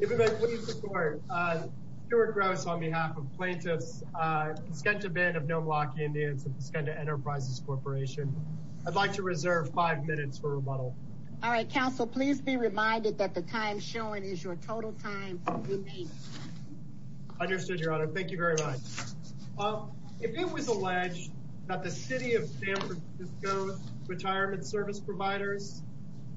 If it may please the court, Stuart Grouse on behalf of plaintiffs, Paskenta Band of Nomalaki Indians and Paskenta Enterprises Corporation. I'd like to reserve five minutes for rebuttal. All right, counsel, please be reminded that the time shown is your total time. Understood, your honor. Thank you very much. If it was alleged that the city of San Francisco's retirement service providers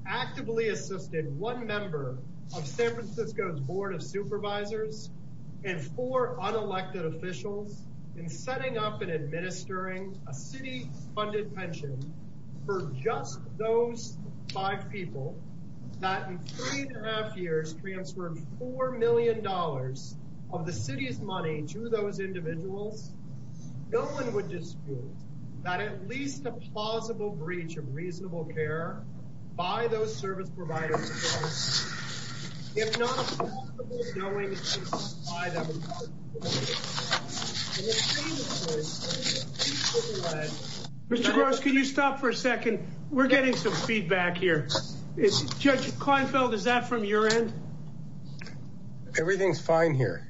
actively assisted one member of San Francisco's Board of Supervisors and four unelected officials in setting up and administering a city-funded pension for just those five people that in three and a half years transferred four million dollars of the city's that at least a plausible breach of reasonable care by those service providers if not knowing Mr. Grouse, can you stop for a second? We're getting some feedback here. Judge Kleinfeld, is that from your end? Everything's fine here.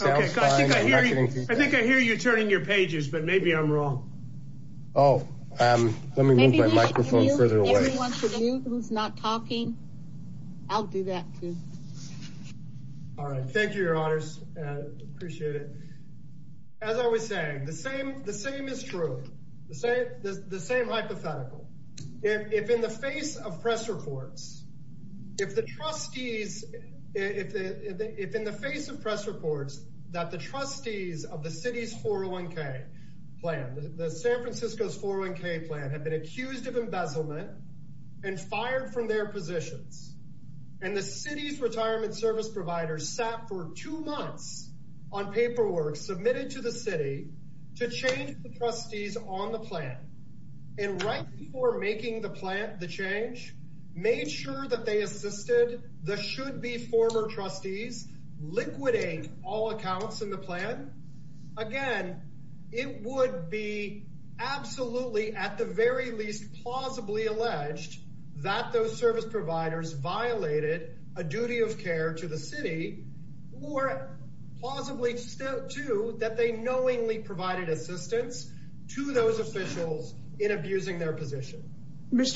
I think I hear you turning your pages, but maybe I'm wrong. Oh, let me move my microphone further away. If you want to mute who's not talking, I'll do that too. All right, thank you, your honors. Appreciate it. As I was saying, the same is true. The same hypothetical. If in the face of press reports, if the trustees, if in the face of press reports that the trustees of the city's 401k plan, the San Francisco's 401k plan, have been accused of embezzlement and fired from their positions and the city's retirement service providers sat for two months on paperwork submitted to the city to change the trustees on the plan and right before making the plan, the change, made sure that they assisted the should-be former trustees liquidating all accounts in the plan. Again, it would be absolutely, at the very least, plausibly alleged that those service providers violated a duty of care to the city or plausibly to that they knowingly provided assistance to those officials in abusing their between the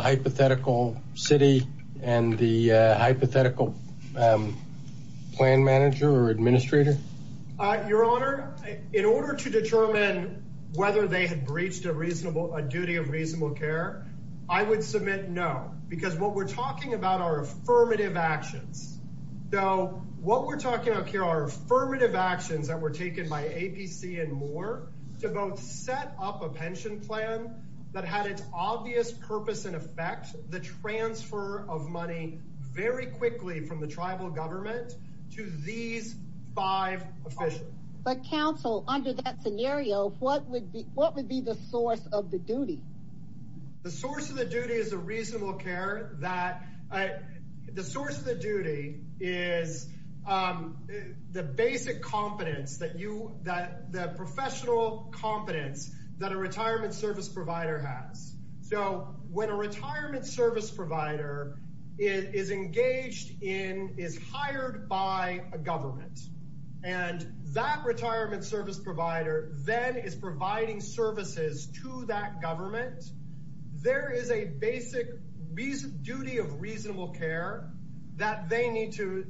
hypothetical city and the hypothetical plan manager or administrator? Your honor, in order to determine whether they had breached a reasonable, a duty of reasonable care, I would submit no, because what we're talking about are affirmative actions. So what we're talking about here are affirmative actions that were taken by APC and Moore to both set up a pension plan that had its obvious purpose and effect, the transfer of money very quickly from the tribal government to these five officials. But counsel, under that scenario, what would be what would be the source of the duty? The source of the duty is a reasonable competence that a retirement service provider has. So when a retirement service provider is engaged in, is hired by a government and that retirement service provider then is providing services to that government, there is a basic duty of reasonable care that they need to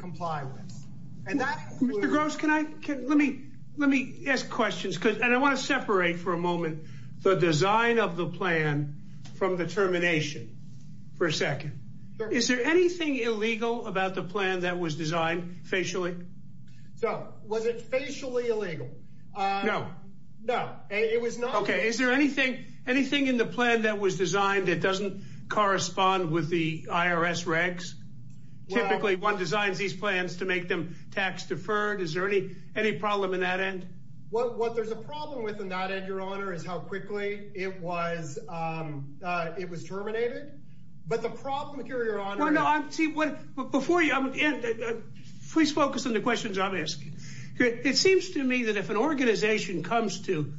comply with. Mr. Gross, can I let me let me ask questions because and I want to separate for a moment the design of the plan from the termination for a second. Is there anything illegal about the plan that was designed facially? So was it facially illegal? No, no, it was not. Okay, is there anything anything in the plan that was designed that doesn't correspond with the IRS regs? Typically, one designs these plans to make them tax deferred. Is there any any problem in that end? Well, what there's a problem with in that end, your honor, is how quickly it was. It was terminated. But the problem here, your honor, I see what before you please focus on the questions I'm asking. It seems to me that if an organization comes to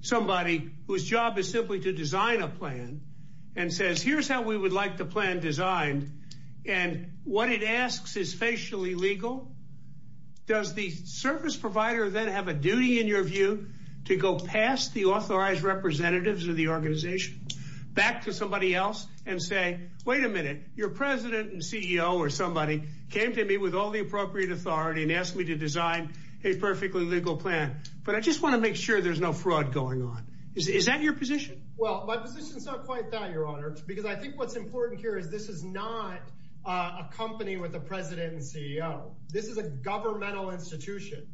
somebody whose job is simply to design a plan and says here's how we would like the plan designed and what it asks is facially legal, does the service provider then have a duty in your view to go past the authorized representatives of the organization back to somebody else and say, wait a minute, your president and CEO or somebody came to me with all the appropriate authority and asked me to design a perfectly legal plan. But I just want to make sure there's no fraud going on. Is that your position? Well, my position is not quite that, your honor, because I think what's important here is this is not a company with a president and CEO. This is a governmental institution.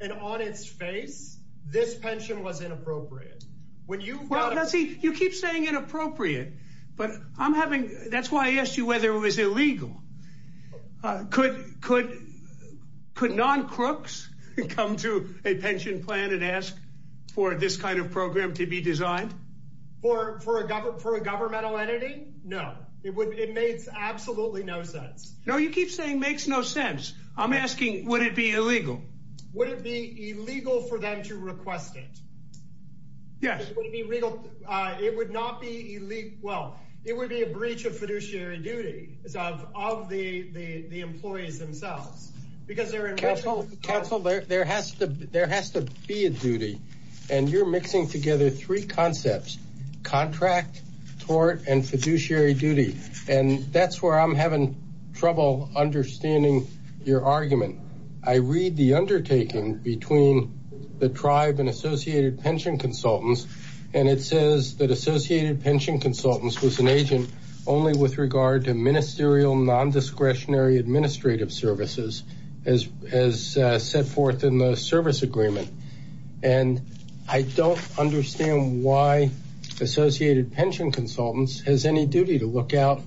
And on its face, this pension was inappropriate. When you see you keep saying inappropriate, but I'm having that's why I asked whether it was illegal. Could could could non crooks come to a pension plan and ask for this kind of program to be designed for for a government for a governmental entity? No, it would it makes absolutely no sense. No, you keep saying makes no sense. I'm asking, would it be illegal? Would it be illegal for them to request it? Yes, it would be legal. It would not be elite. Well, it would be a breach of fiduciary duty of the employees themselves, because they're in council. There has to there has to be a duty. And you're mixing together three concepts, contract, tort and fiduciary duty. And that's where I'm having trouble understanding your argument. I read the undertaking between the tribe and Associated Pension Consultants. And it says that Associated Pension Consultants was an agent only with regard to ministerial nondiscretionary administrative services, as as set forth in the service agreement. And I don't understand why Associated Pension Consultants has any duty to look out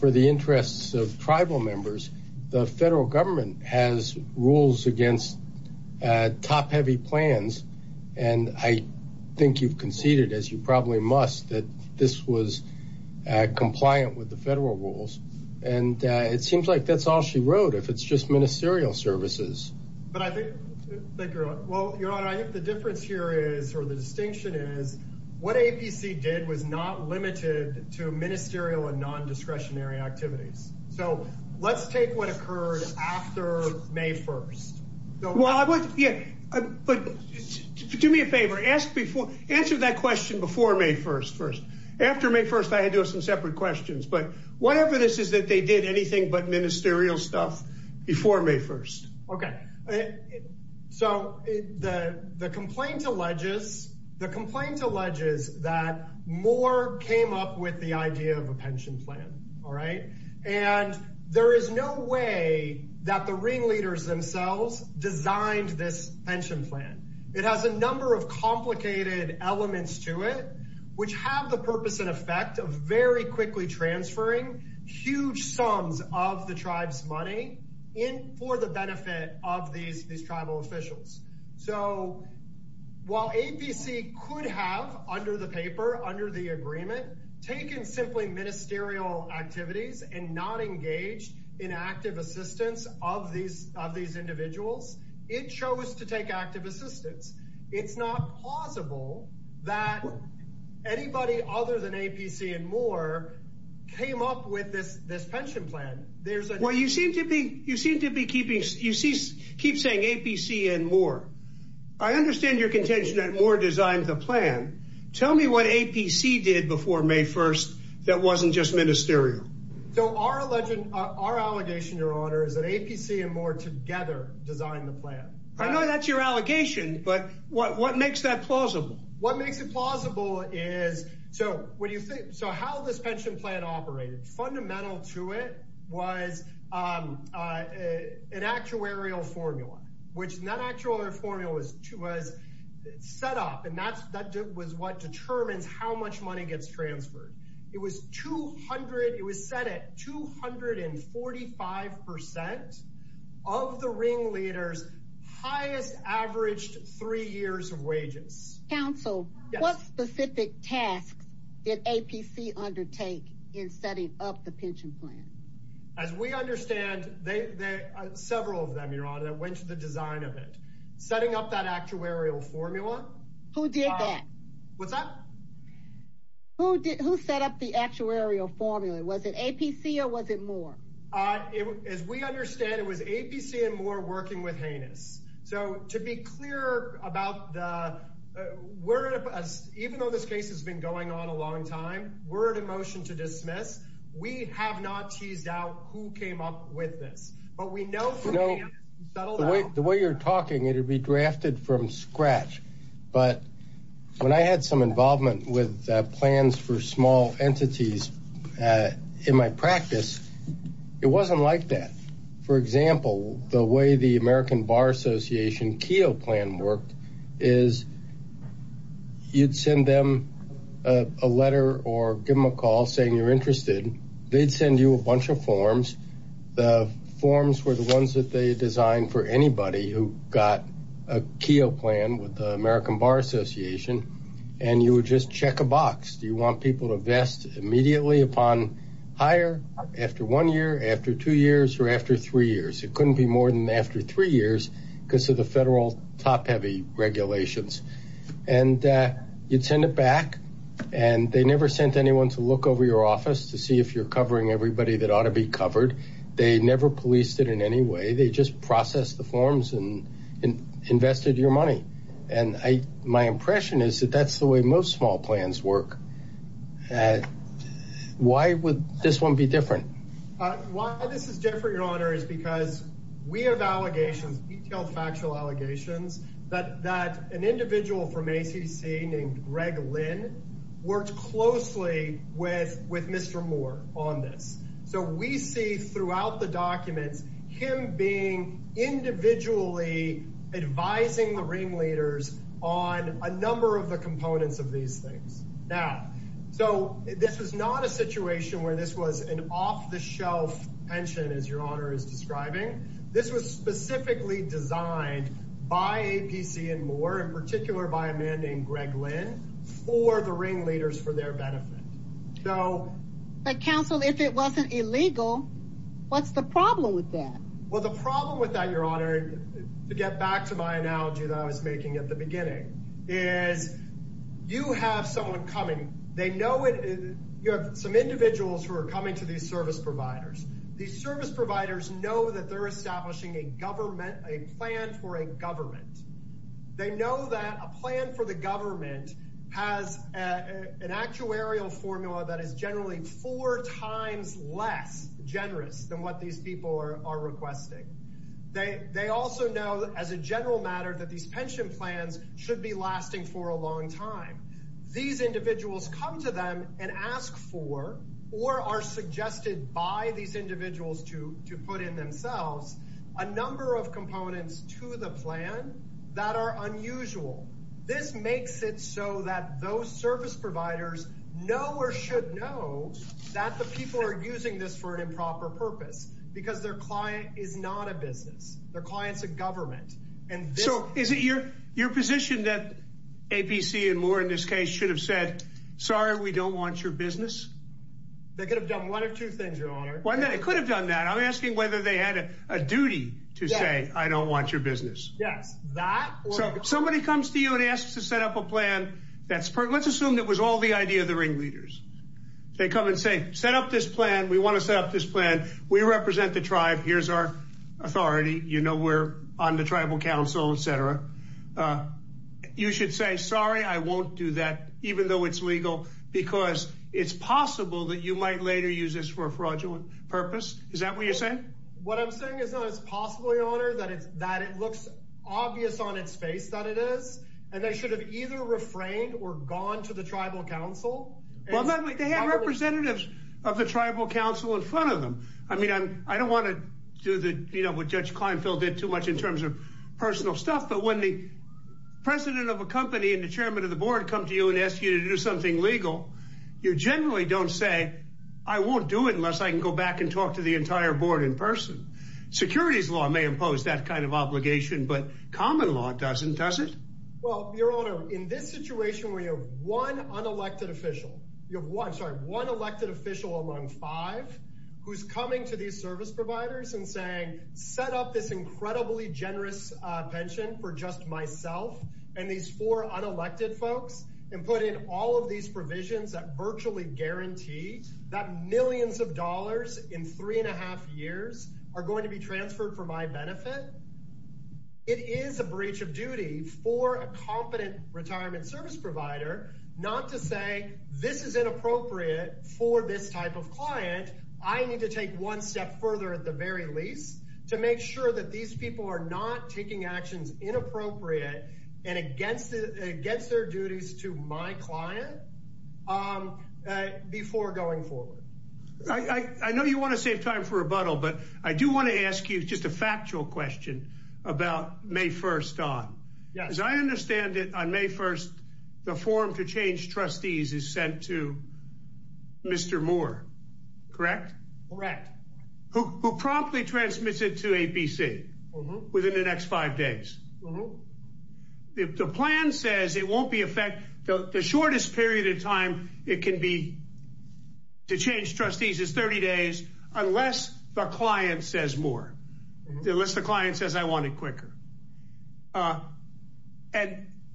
for the interests of tribal members. The federal government has rules against top heavy plans. And I think you've conceded as you probably must that this was compliant with the federal rules. And it seems like that's all she wrote, if it's just ministerial services. But I think, well, Your Honor, I think the difference here is or the distinction is what APC did was not limited to ministerial and nondiscretionary activities. So let's take what occurred after May 1st. Well, I would. Yeah. But do me a favor. Ask before answer that question before May 1st. First, after May 1st, I had to have some separate questions. But what evidence is that they did anything but ministerial stuff before May 1st? Okay. So the complaint alleges, the complaint alleges that Moore came up with the idea of a pension plan. All right. And there is no way that the ringleaders themselves designed this pension plan. It has a number of complicated elements to it, which have the purpose and effect of very quickly transferring huge sums of the tribe's money in for the benefit of these these tribal officials. So while APC could have under the paper, under the agreement, taken simply ministerial activities and not engaged in active assistance of these of these individuals, it chose to take active assistance. It's not possible that anybody other than APC and Moore came up with this this pension plan. There's a way you seem to be. You seem to be keeping. You keep saying APC and more. I understand your contention that Moore designed the plan. Tell me what APC did before May 1st that wasn't just ministerial. So our legend, our allegation, Your Honor, is that APC and Moore together designed the plan. I know that's your allegation, but what what makes that plausible? What makes it plausible is so what do you think? So how this pension plan operated fundamental to it was an actuarial formula, which not actual formula was to was set up. And that's that was what determines how much money gets transferred. It was two hundred. It was set at two hundred and eight years, which is the pension leaders highest averaged three years of wages. Council, what specific tasks did APC undertake in setting up the pension plan? As we understand, they several of them, Your Honor, that went to the design of it, setting up that actuarial formula. Who did that? What's up? Who did who set up the actuarial formula? Was it APC or was it Moore? As we understand, it was APC and Moore working with heinous. So to be clear about the word of us, even though this case has been going on a long time, we're at a motion to dismiss. We have not teased out who came up with this, but we know, you know, the way you're talking, it would be drafted from scratch. But when I had some involvement with plans for small entities in my practice, it wasn't like that. For example, the way the American Bar Association Keogh plan worked is you'd send them a letter or give them a call saying you're interested. They'd send you a bunch of forms. The forms were the ones that they designed for anybody who got a Keogh plan with the American Bar Association. And you would just check a box. Do you want people to vest immediately upon hire after one year, after two years or after three years? It couldn't be more than after three years because of the federal top heavy regulations. And you'd send it back. And they never sent anyone to look over your office to see if you're covering everybody that ought to be covered. They never policed it in any way. They just process the forms and invested your money. And my impression is that that's the way most small plans work. Why would this one be different? Why this is different, your honor, is because we have allegations, detailed factual allegations, that an individual from ACC named Greg Lynn worked closely with Mr. Moore on this. So we see throughout the documents him being individually advising the ringleaders on a number of the components of these things. Now, so this was not a situation where this was an off-the-shelf pension, as your honor is describing. This was specifically designed by APC and Moore, in particular by a man named Greg Lynn, for the ringleaders for their benefit. So. But counsel, if it wasn't illegal, what's the problem with that? Well, the problem with that, your honor, to get back to my analogy that I was making at the beginning, is you have someone coming. They know it. You have some individuals who are coming to these service providers. These service providers know that they're establishing a government, a plan for a formula that is generally four times less generous than what these people are requesting. They also know, as a general matter, that these pension plans should be lasting for a long time. These individuals come to them and ask for, or are suggested by these individuals to put in themselves, a number of components to the plan that are unusual. This makes it so that those service providers know, or should know, that the people are using this for an improper purpose, because their client is not a business. Their client's a government. So is it your position that APC and Moore, in this case, should have said, sorry, we don't want your business? They could have done one of two things, your honor. Well, they could have done that. I'm asking whether they had a duty to say, I don't want your business. Yes. So somebody comes to and asks to set up a plan that's, let's assume that was all the idea of the ringleaders. They come and say, set up this plan. We want to set up this plan. We represent the tribe. Here's our authority. You know we're on the tribal council, etc. You should say, sorry, I won't do that, even though it's legal, because it's possible that you might later use this for a fraudulent purpose. Is that what you're saying? What I'm saying is that it's possible, your honor, that it's, that it should have either refrained or gone to the tribal council. Well, they have representatives of the tribal council in front of them. I mean, I don't want to do what Judge Kleinfeld did too much in terms of personal stuff. But when the president of a company and the chairman of the board come to you and ask you to do something legal, you generally don't say, I won't do it unless I can go back and talk to the entire board in person. Securities law may impose that kind of obligation, but common law doesn't, does it? Well, your honor, in this situation where you have one unelected official, you have one, sorry, one elected official among five who's coming to these service providers and saying, set up this incredibly generous pension for just myself and these four unelected folks, and put in all of these provisions that virtually guarantee that millions of dollars in three and a half years are going to be transferred for my benefit. It is a breach of duty for a competent retirement service provider not to say, this is inappropriate for this type of client. I need to take one step further at the very least to make sure that these people are not taking actions inappropriate and against their duties to my client before going forward. I know you want to save time for rebuttal, but I do want to ask you just a factual question about May 1st on. As I understand it on May 1st, the form to change trustees is sent to Mr. Moore, correct? Correct. Who promptly transmits it to ABC within the next five days. Mm-hmm. The plan says it won't be effect, the shortest period of time it can be to change trustees is 30 days unless the client says more, unless the client says I want it quicker. But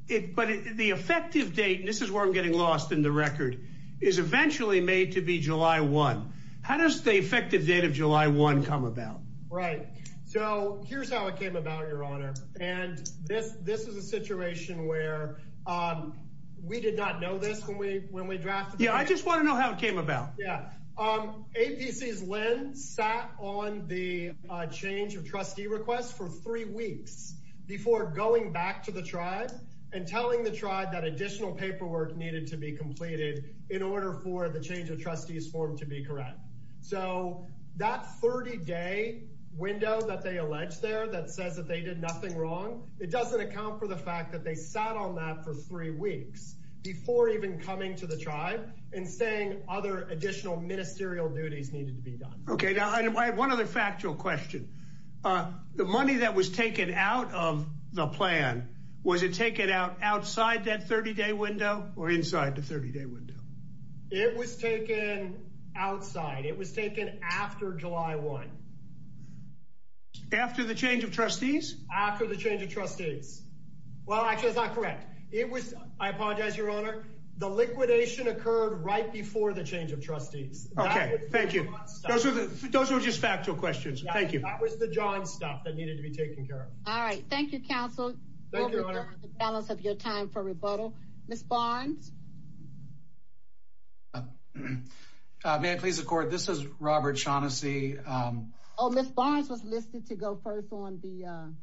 the effective date, and this is where I'm getting lost in the record, is eventually made to be July 1. How does the effective date of July 1 come about? Right. So here's how it came about, Your Honor. And this is a situation where we did not know this when we drafted it. Yeah, I just want to know how it came about. Yeah. ABC's lens sat on the change of trustee requests for three weeks before going back to the tribe and telling the tribe that additional paperwork needed to be completed in order for change of trustees form to be correct. So that 30-day window that they allege there that says that they did nothing wrong, it doesn't account for the fact that they sat on that for three weeks before even coming to the tribe and saying other additional ministerial duties needed to be done. Okay. Now I have one other factual question. The money that was taken out of the plan, was it taken out outside that 30-day window or inside the 30-day window? It was taken outside. It was taken after July 1. After the change of trustees? After the change of trustees. Well, actually, that's not correct. It was, I apologize, Your Honor, the liquidation occurred right before the change of trustees. Okay. Thank you. Those are just factual questions. Thank you. That was the John stuff that needed to be taken care of. All right. Thank you, counsel. Thank you, Your Honor. Mr. Barnes? May I please record? This is Robert Shaughnessy. Oh, Ms. Barnes was listed to go first on the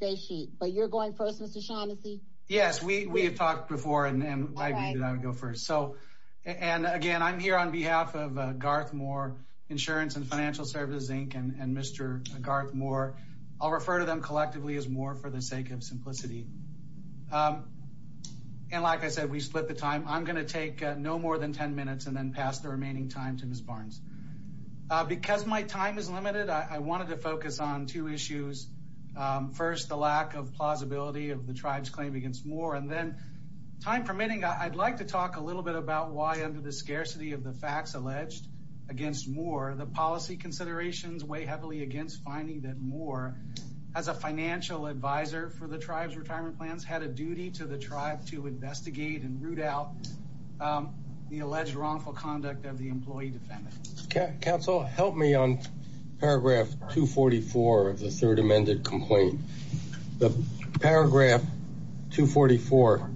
date sheet, but you're going first, Mr. Shaughnessy? Yes, we have talked before and I agreed that I would go first. So, and again, I'm here on behalf of Garth Moore Insurance and Financial Services, Inc. and Mr. Garth Moore. I'll refer to them collectively as Moore for the sake of simplicity. And like I said, we split the time. I'm going to take no more than 10 minutes and then pass the remaining time to Ms. Barnes. Because my time is limited, I wanted to focus on two issues. First, the lack of plausibility of the tribe's claim against Moore. And then, time permitting, I'd like to talk a little bit about why under the scarcity of the facts alleged against Moore, the policy considerations weigh against finding that Moore, as a financial advisor for the tribe's retirement plans, had a duty to the tribe to investigate and root out the alleged wrongful conduct of the employee defendant. Counsel, help me on paragraph 244 of the third amended complaint. The paragraph 244,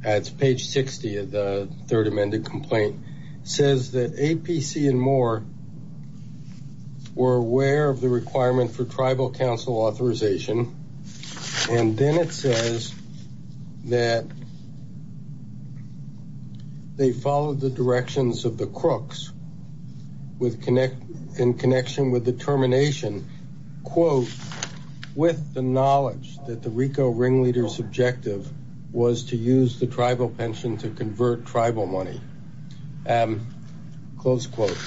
that's page 60 of the third amended complaint, says that APC and Moore were aware of the requirement for tribal council authorization. And then it says that they followed the directions of the crooks in connection with the termination, quote, with the knowledge that the RICO ringleader's objective was to use the tribal pension to convert tribal money. Close quote.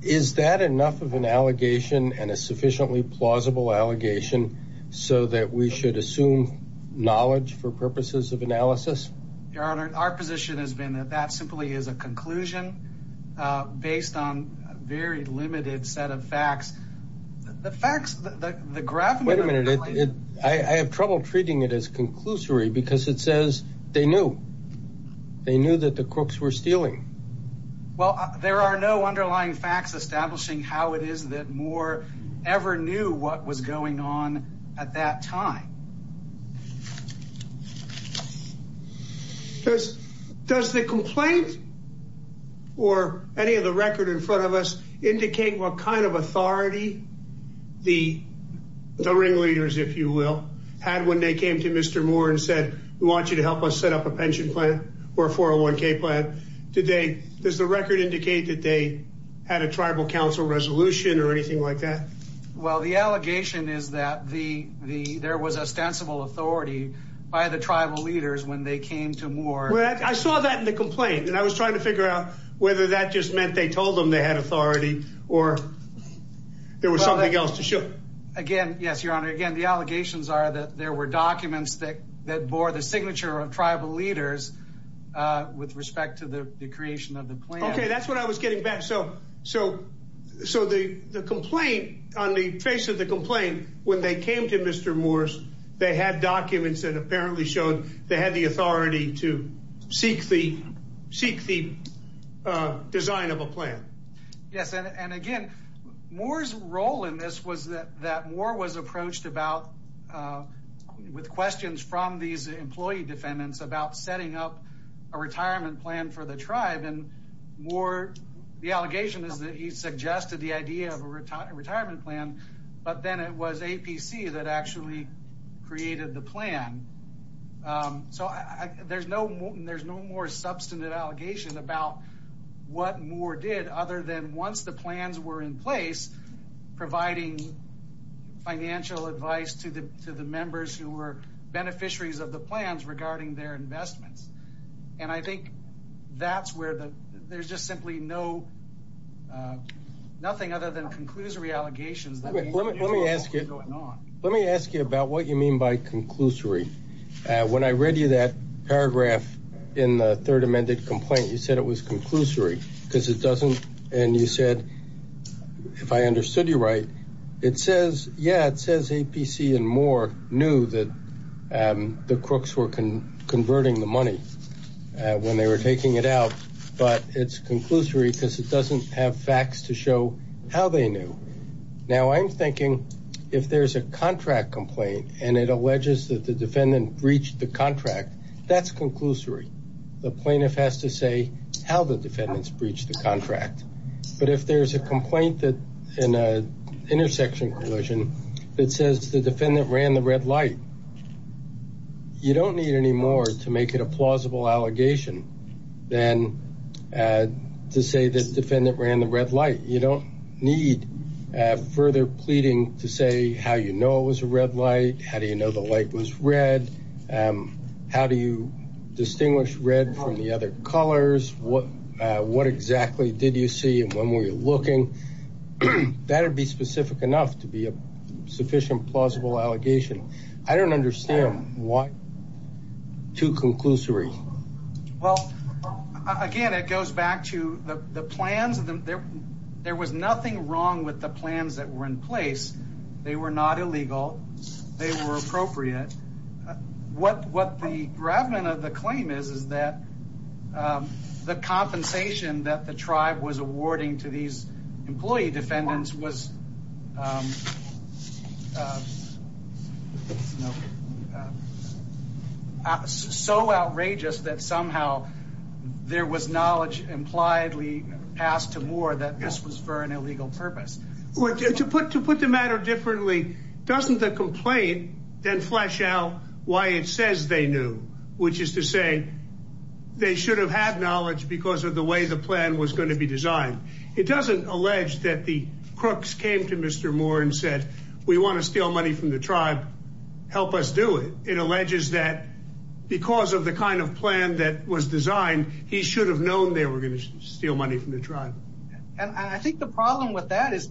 Is that enough of an allegation and a sufficiently plausible allegation so that we should assume knowledge for purposes of analysis? Your Honor, our position has been that that simply is a conclusion based on a very limited set of facts. I have trouble treating it as conclusory because it says they knew. They knew that the crooks were stealing. Well, there are no underlying facts establishing how it is that Moore ever knew what was going on at that time. Does the complaint or any of the record in front of us indicate what kind of authority the ringleaders, if you will, had when they came to Mr. Moore and said, we want you to help us set up a pension plan or 401k plan? Does the record indicate that they had a tribal council resolution or anything like that? Well, the allegation is that there was ostensible authority by the tribal leaders when they came to Moore. Well, I saw that in the complaint and I was trying to figure out whether that just meant they told them they had authority or there was something else to show. Again, yes, Your Honor, again, the allegations are that there were documents that bore the signature of tribal leaders with respect to the creation of the plan. Okay, that's what I was getting back. So the complaint, on the face of the complaint, when they came to Mr. Moore's, they had documents that apparently showed they had the authority to seek the design of a plan. Yes, and again, Moore's role in this was that Moore was approached about with questions from these employee defendants about setting up a retirement plan for the tribe. Moore, the allegation is that he suggested the idea of a retirement plan, but then it was APC that actually created the plan. So there's no more substantive allegation about what Moore did other than once the plans were in place, providing financial advice to the members who were there. There's just simply nothing other than conclusory allegations. Let me ask you about what you mean by conclusory. When I read you that paragraph in the third amended complaint, you said it was conclusory because it doesn't, and you said, if I understood you right, it says, yeah, it says APC and Moore knew that the crooks were converting the money when they were taking it out, but it's conclusory because it doesn't have facts to show how they knew. Now I'm thinking, if there's a contract complaint and it alleges that the defendant breached the contract, that's conclusory. The plaintiff has to say how the defendants breached the contract. But if there's a complaint that in a intersection collision, it says the allegation, then to say the defendant ran the red light, you don't need further pleading to say how you know it was a red light. How do you know the light was red? How do you distinguish red from the other colors? What exactly did you see and when were you looking? That would be specific enough to be a sufficient plausible allegation. I don't understand why too conclusory. Well, again, it goes back to the plans. There was nothing wrong with the plans that were in place. They were not illegal. They were appropriate. What the gravamen of the claim is, is that the compensation that the tribe was awarding to these employee defendants was so outrageous that somehow there was knowledge impliedly passed to more that this was for an illegal purpose. To put the matter differently, doesn't the complaint then flesh out why it says which is to say they should have had knowledge because of the way the plan was going to be designed. It doesn't allege that the crooks came to Mr. Moore and said we want to steal money from the tribe. Help us do it. It alleges that because of the kind of plan that was designed, he should have known they were going to steal money from the tribe. And I think the problem with that is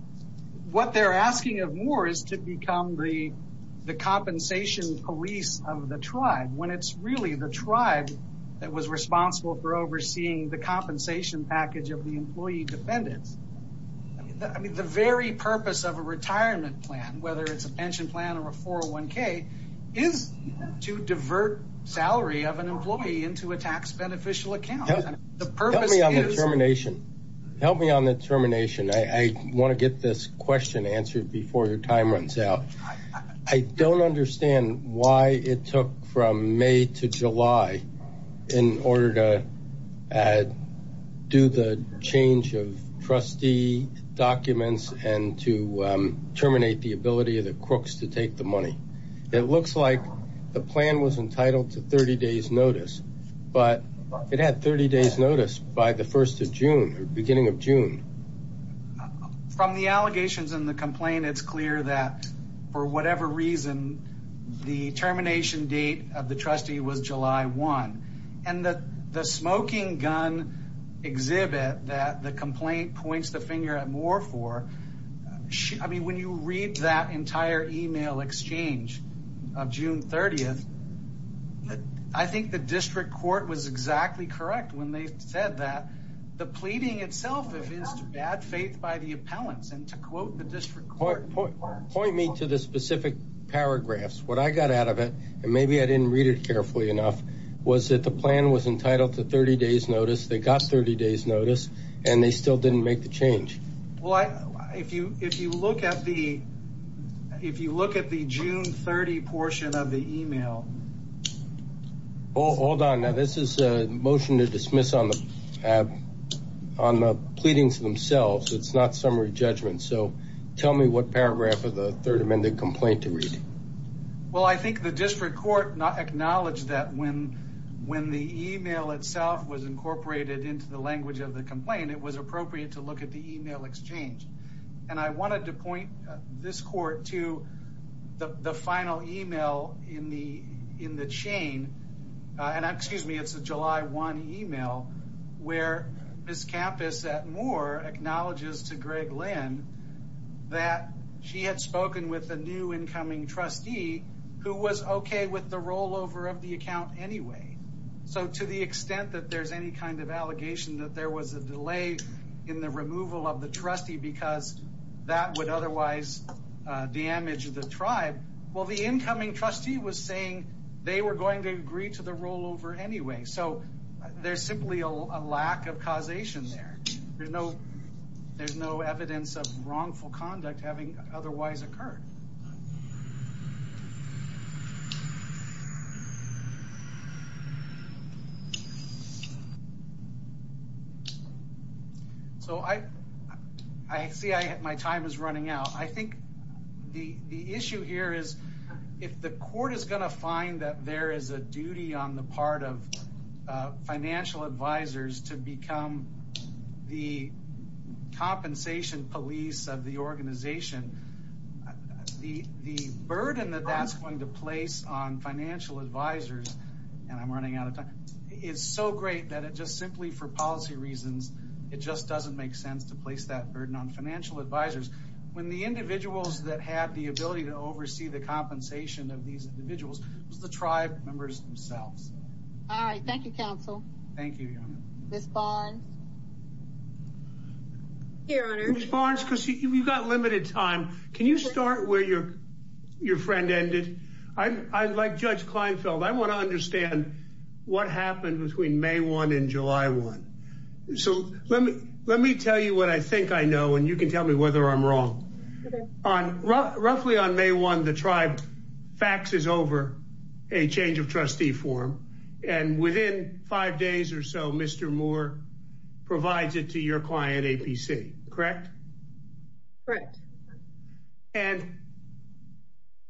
what they're asking of Moore is to become the compensation police of the tribe when it's really the tribe that was responsible for overseeing the compensation package of the employee defendants. The very purpose of a retirement plan, whether it's a pension plan or a 401k, is to divert salary of an employee into a tax beneficial account. Help me on the termination. Help me on the termination. I want to get this question answered before your time runs out. I don't understand why it took from May to July in order to do the change of trustee documents and to terminate the ability of the crooks to take the notice by the first of June or beginning of June. From the allegations in the complaint, it's clear that for whatever reason, the termination date of the trustee was July 1. And the smoking gun exhibit that the complaint points the finger at Moore for, I mean, when you read that entire email exchange of June 30th, I think the district court was exactly correct when they said that the pleading itself is to bad faith by the appellants. And to quote the district court... Point me to the specific paragraphs. What I got out of it, and maybe I didn't read it carefully enough, was that the plan was entitled to 30 days notice. They got 30 days notice and they still didn't make the change. Well, if you look at the June 30 portion of the email... Hold on. Now, this is a motion to dismiss on the pleadings themselves. It's not summary judgment. So tell me what paragraph of the Third Amendment complaint to read. Well, I think the district court acknowledged that when the email itself was incorporated into the language of the complaint, it was appropriate to look at the email exchange. And I wanted to point this court to the final email in the chain. And excuse me, it's a July 1 email where Ms. Campos at Moore acknowledges to Greg Lynn that she had spoken with a new incoming trustee who was okay with the rollover of the account anyway. So to the extent that there's any kind of allegation that there was a delay in the removal of the trustee because that would otherwise damage the tribe, well, the incoming trustee was saying they were going to agree to the rollover anyway. So there's simply a lack of causation there. There's no evidence of wrongful conduct having otherwise occurred. So I see my time is running out. I think the issue here is if the court is going to find that there is a duty on the part of the organization, the burden that that's going to place on financial advisors, and I'm running out of time, is so great that it just simply for policy reasons, it just doesn't make sense to place that burden on financial advisors. When the individuals that had the ability to oversee the compensation of these individuals was the tribe members themselves. All right. Thank you, Judge, because you've got limited time. Can you start where your friend ended? Like Judge Kleinfeld, I want to understand what happened between May 1 and July 1. So let me tell you what I think I know, and you can tell me whether I'm wrong. Roughly on May 1, the tribe faxes over a change of trustee form, and within five days or so, Mr. Moore provides it to your client, APC. Correct? Correct. And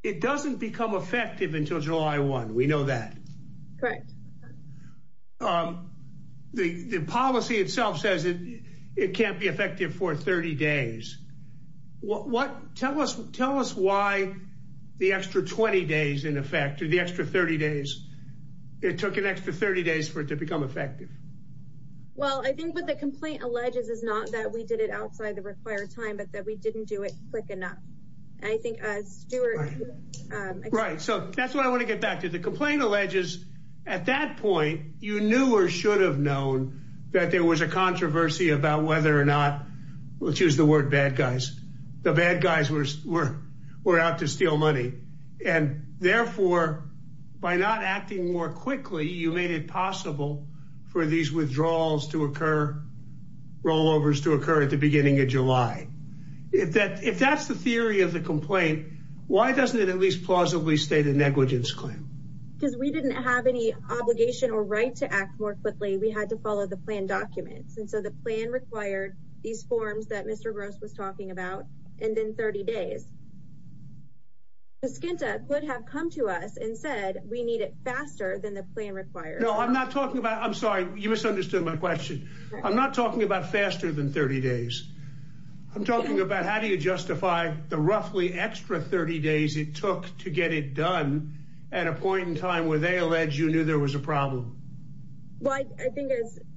it doesn't become effective until July 1. We know that. Correct. The policy itself says it can't be effective for 30 days. Tell us why the extra 20 days, in effect, or the extra 30 days, it took an extra 30 days for it to become effective. Well, I think what the complaint alleges is not that we did it outside the required time, but that we didn't do it quick enough. I think Stuart... Right. So that's what I want to get back to. The complaint alleges at that point, you knew or should have known that there was a controversy about whether or not, let's use the word bad guys, the bad guys were out to steal these withdrawals to occur, rollovers to occur at the beginning of July. If that's the theory of the complaint, why doesn't it at least plausibly state a negligence claim? Because we didn't have any obligation or right to act more quickly. We had to follow the plan documents, and so the plan required these forms that Mr. Gross was talking about, and then 30 days. Skinta could have come to us and said, we need it faster than the plan required. No, I'm sorry. You misunderstood my question. I'm not talking about faster than 30 days. I'm talking about how do you justify the roughly extra 30 days it took to get it done at a point in time where they allege you knew there was a problem? Well, I think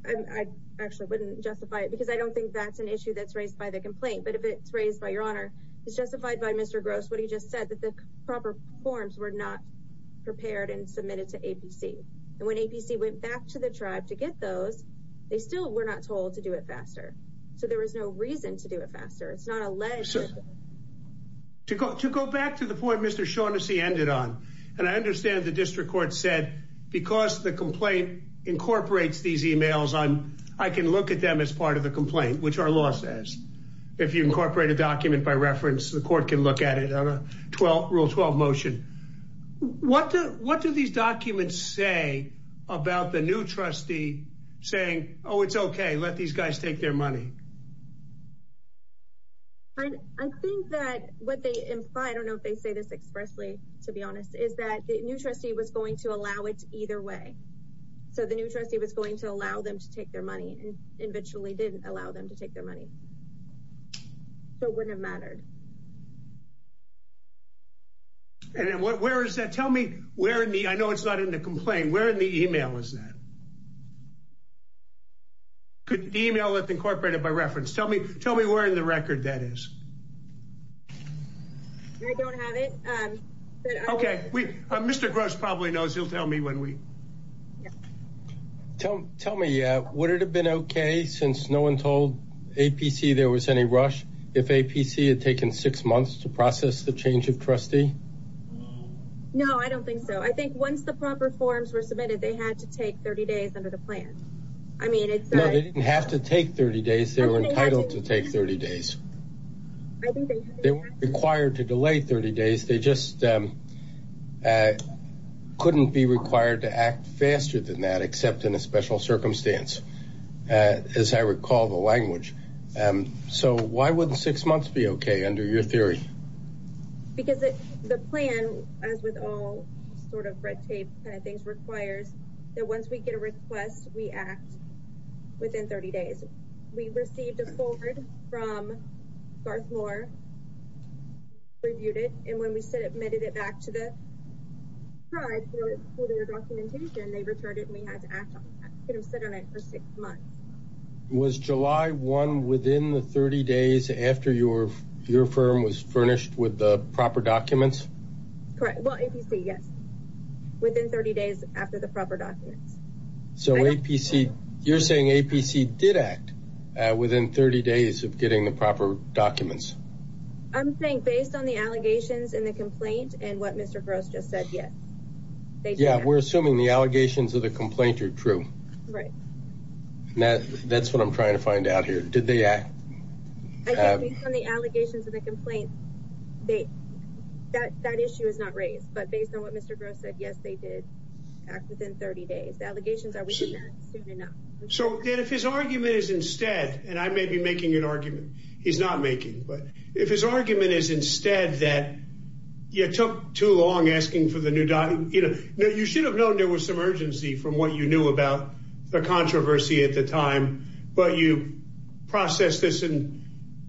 I actually wouldn't justify it because I don't think that's an issue that's raised by the complaint. But if it's raised by your honor, it's justified by Mr. Gross, what he just said, that the proper forms were not prepared and submitted to APC. When APC went back to the tribe to get those, they still were not told to do it faster. So there was no reason to do it faster. It's not alleged. To go back to the point Mr. Shaughnessy ended on, and I understand the district court said because the complaint incorporates these emails, I can look at them as part of the complaint, which our law says. If you incorporate a document by about the new trustee saying, oh, it's okay, let these guys take their money. I think that what they imply, I don't know if they say this expressly, to be honest, is that the new trustee was going to allow it either way. So the new trustee was going to allow them to take their money and eventually didn't allow them to take their money. So it wouldn't have mattered. And where is that? Tell me where in the, I know it's not in the complaint, where in the email is that? Could email it incorporated by reference. Tell me where in the record that is. I don't have it. Okay, Mr. Gross probably knows. He'll tell me when we. Tell me, would it have been okay since no one told APC there was any rush if APC had taken six months to process the change of trustee? No, I don't think so. I think once the proper forms were submitted, they had to take 30 days under the plan. I mean, it's not, they didn't have to take 30 days. They were entitled to take 30 days. They weren't required to delay 30 days. They just couldn't be required to act faster than that, except in a special circumstance, as I recall the language. So why wouldn't six months be okay under your theory? Because the plan, as with all sort of red tape kind of things, requires that once we get a request, we act within 30 days. We received a forward from Garth Moore, reviewed it, and when we submitted it back to the tribe for their documentation, they returned it and we had to act on that. We could have sit on it for six months. Was July 1 within the 30 days after your firm was furnished with the proper documents? Correct. Well, APC, yes. Within 30 days after the proper documents. So APC, you're saying APC did act within 30 days of getting the proper documents? I'm saying based on the allegations and the complaint and what Mr. Gross just said, yes. Yeah, we're assuming the allegations of the complaint are true. Right. That's what I'm trying to find out here. Did they act? I think based on the allegations of the complaint, that issue is not raised. But based on what Mr. Gross said, yes, they did act within 30 days. The allegations are within that soon enough. So then if his argument is instead, and I may be making an argument, he's not making, but if his argument is instead that you took too long asking for the new document, you should have known there was some urgency from what you knew about the controversy at the time, but you processed this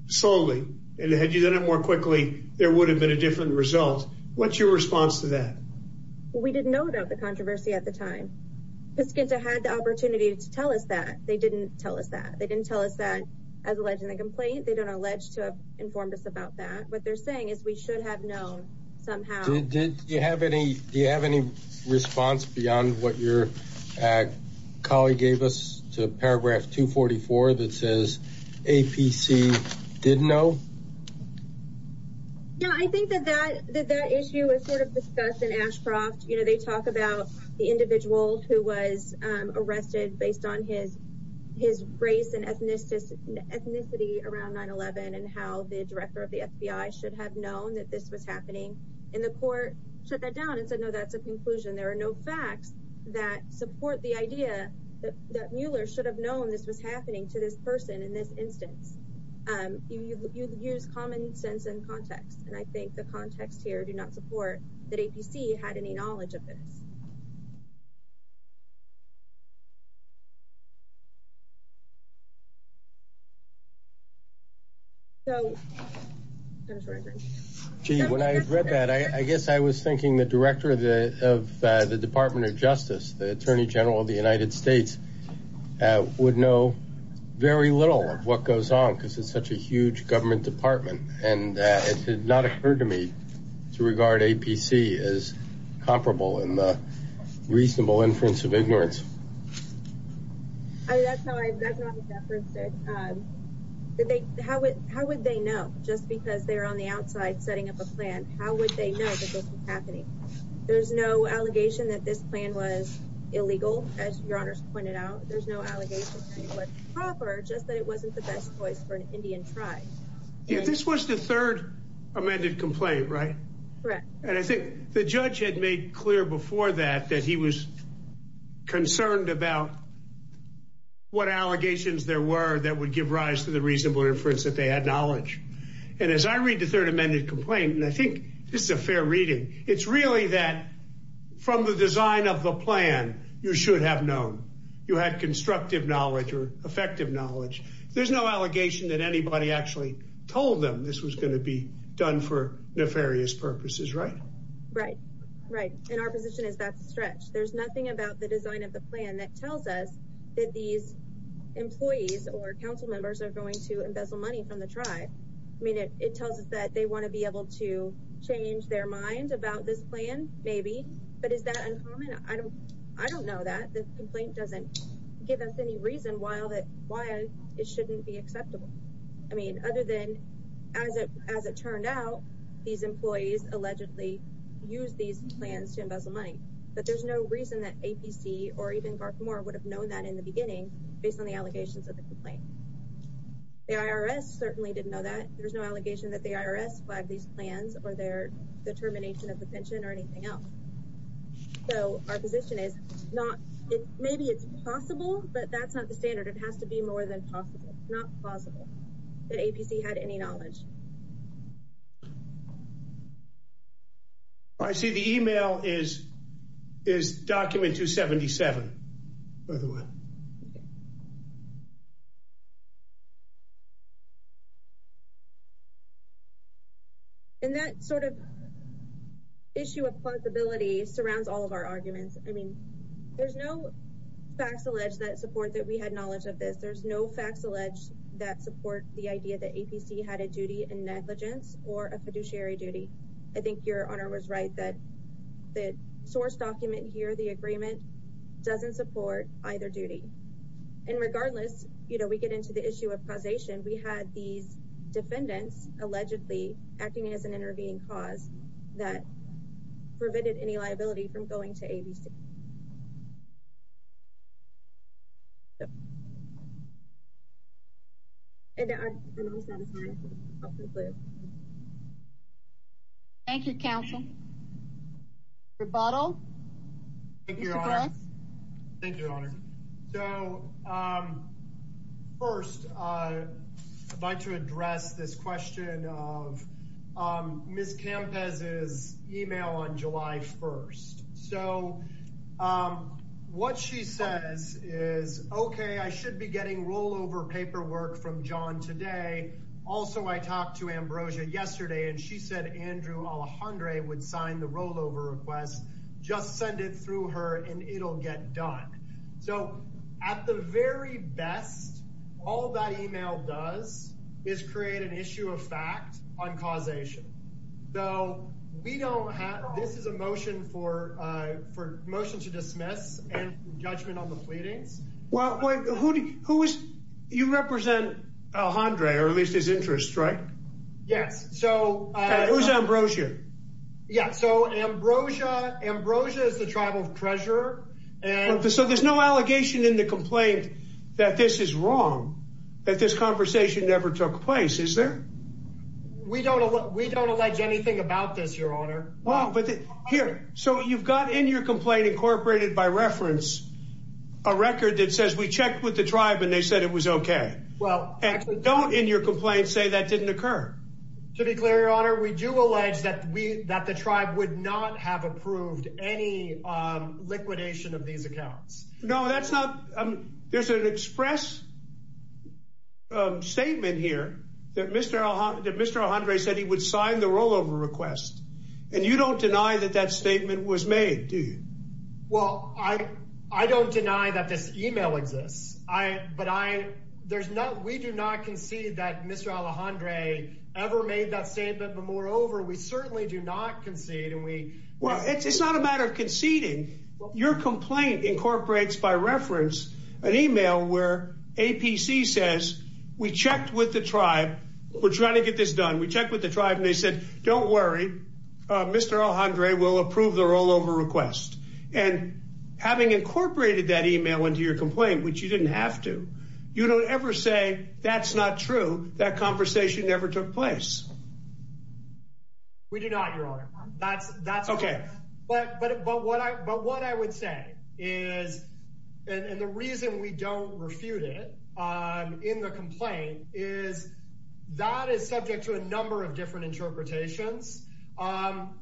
slowly, and had you done it more quickly, there would have been a different result. What's your response to that? We didn't know about the controversy at the time. Piscinta had the opportunity to tell us that. They didn't tell us that. They didn't tell us that as alleged in the complaint. They don't allege to have informed us about that. What they're saying is we should have known somehow. Do you have any response beyond what your colleague gave us to paragraph 244 that says APC did know? Yeah, I think that that issue was sort of discussed in Ashcroft. They talk about the individual who was arrested based on his race and ethnicity around 9-11, and how the director of the APC should have known that this was happening, and the court shut that down and said, no, that's a conclusion. There are no facts that support the idea that Mueller should have known this was happening to this person in this instance. You use common sense and context, and I think the context here do not support that APC had any knowledge of this. So when I read that, I guess I was thinking the director of the Department of Justice, the Attorney General of the United States, would know very little of what goes on because it's such a huge government department, and it did not occur to me to regard APC as comparable in the reasonable inference of ignorance. How would they know just because they're on the outside setting up a plan? How would they know that this was happening? There's no allegation that this plan was illegal, as your honors pointed out. There's no allegation that it was proper, just that it wasn't the best choice for an Indian tribe. This was the third amended complaint, right? And I think the judge had made clear before that that he was concerned about what allegations there were that would give rise to the reasonable inference that they had knowledge. And as I read the third amended complaint, and I think this is a fair reading, it's really that from the design of the plan, you should have known. You had constructive knowledge or effective knowledge. There's no allegation that anybody actually told them this was going to be done for nefarious purposes, right? Right, right. And our position is that's a stretch. There's nothing about the design of the plan that tells us that these employees or council members are going to embezzle money from the tribe. I mean, it tells us that they want to be able to change their mind about this plan, maybe. But is that uncommon? I don't know that. The complaint doesn't give us any reason why it shouldn't be acceptable. I mean, other than as it turned out, these employees allegedly use these plans to embezzle money. But there's no reason that APC or even Garth Moore would have known that in the beginning based on the allegations of the complaint. The IRS certainly didn't know that. There's no allegation that the IRS flagged these plans or their determination of the pension or anything else. So our position is not, maybe it's possible, but that's not the standard. It has to be more than possible. It's not possible that APC had any knowledge. I see the email is document 277, by the way. And that sort of issue of plausibility surrounds all of our arguments. I mean, there's no facts alleged that support that we had knowledge of this. There's no facts alleged that support the idea that APC had a duty and negligence or a fiduciary duty. I think your honor was right that the source document here, the agreement doesn't support either duty. And regardless, you know, we get into the issue of causation. We had these defendants allegedly acting as an intervening cause that prevented any liability from going to ABC. And I'm satisfied. Thank you, counsel. Rebuttal. Thank you, your honor. So first, I'd like to address this question of Ms. Campes' email on today. Also, I talked to Ambrosia yesterday, and she said Andrew Alejandre would sign the rollover request, just send it through her and it'll get done. So at the very best, all that email does is create an issue of fact on causation. So we don't have this is a motion for motion to dismiss and judgment on the pleadings. Well, who is, you represent Alejandre, or at least his interest, right? Yes. So who's Ambrosia? Yeah. So Ambrosia, Ambrosia is the tribal treasurer. So there's no allegation in the complaint that this is wrong, that this conversation never took place, is there? We don't, we don't allege anything about this, your honor. Well, but here, so you've got in your complaint incorporated by reference, a record that says we checked with the tribe and they said it was okay. Well, actually- Don't in your complaint say that didn't occur. To be clear, your honor, we do allege that we, that the tribe would not have approved any liquidation of these accounts. No, that's not, there's an express statement here that Mr. Alejandre said he would sign the rollover request. And you don't deny that that statement was made, do you? Well, I don't deny that this email exists. I, but I, there's no, we do not concede that Mr. Alejandre ever made that statement. But moreover, we certainly do not concede and we- Well, it's not a matter of conceding. Your complaint incorporates by reference an email where APC says we checked with the tribe. We're trying to get this done. We checked with the tribe and they said, don't worry, Mr. Alejandre will approve the rollover request. And having incorporated that email into your complaint, which you didn't have to, you don't ever say that's not true. That conversation never took place. We do not, your honor. That's, that's- Okay. But, but, but what I, but what I would say is, and the reason we don't refute it in the of different interpretations,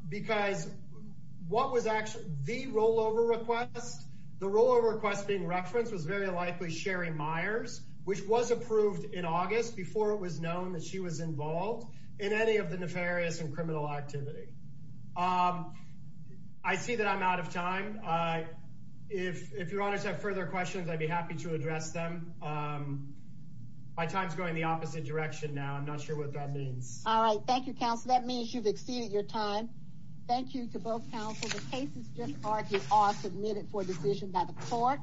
because what was actually the rollover request, the rollover request being referenced was very likely Sherry Myers, which was approved in August before it was known that she was involved in any of the nefarious and criminal activity. I see that I'm out of time. If, if your honors have further questions, I'd be happy to address them. My time's going the opposite direction now. I'm not sure what that means. Thank you, counsel. That means you've exceeded your time. Thank you to both counsel. The cases just argued are submitted for decision by the court.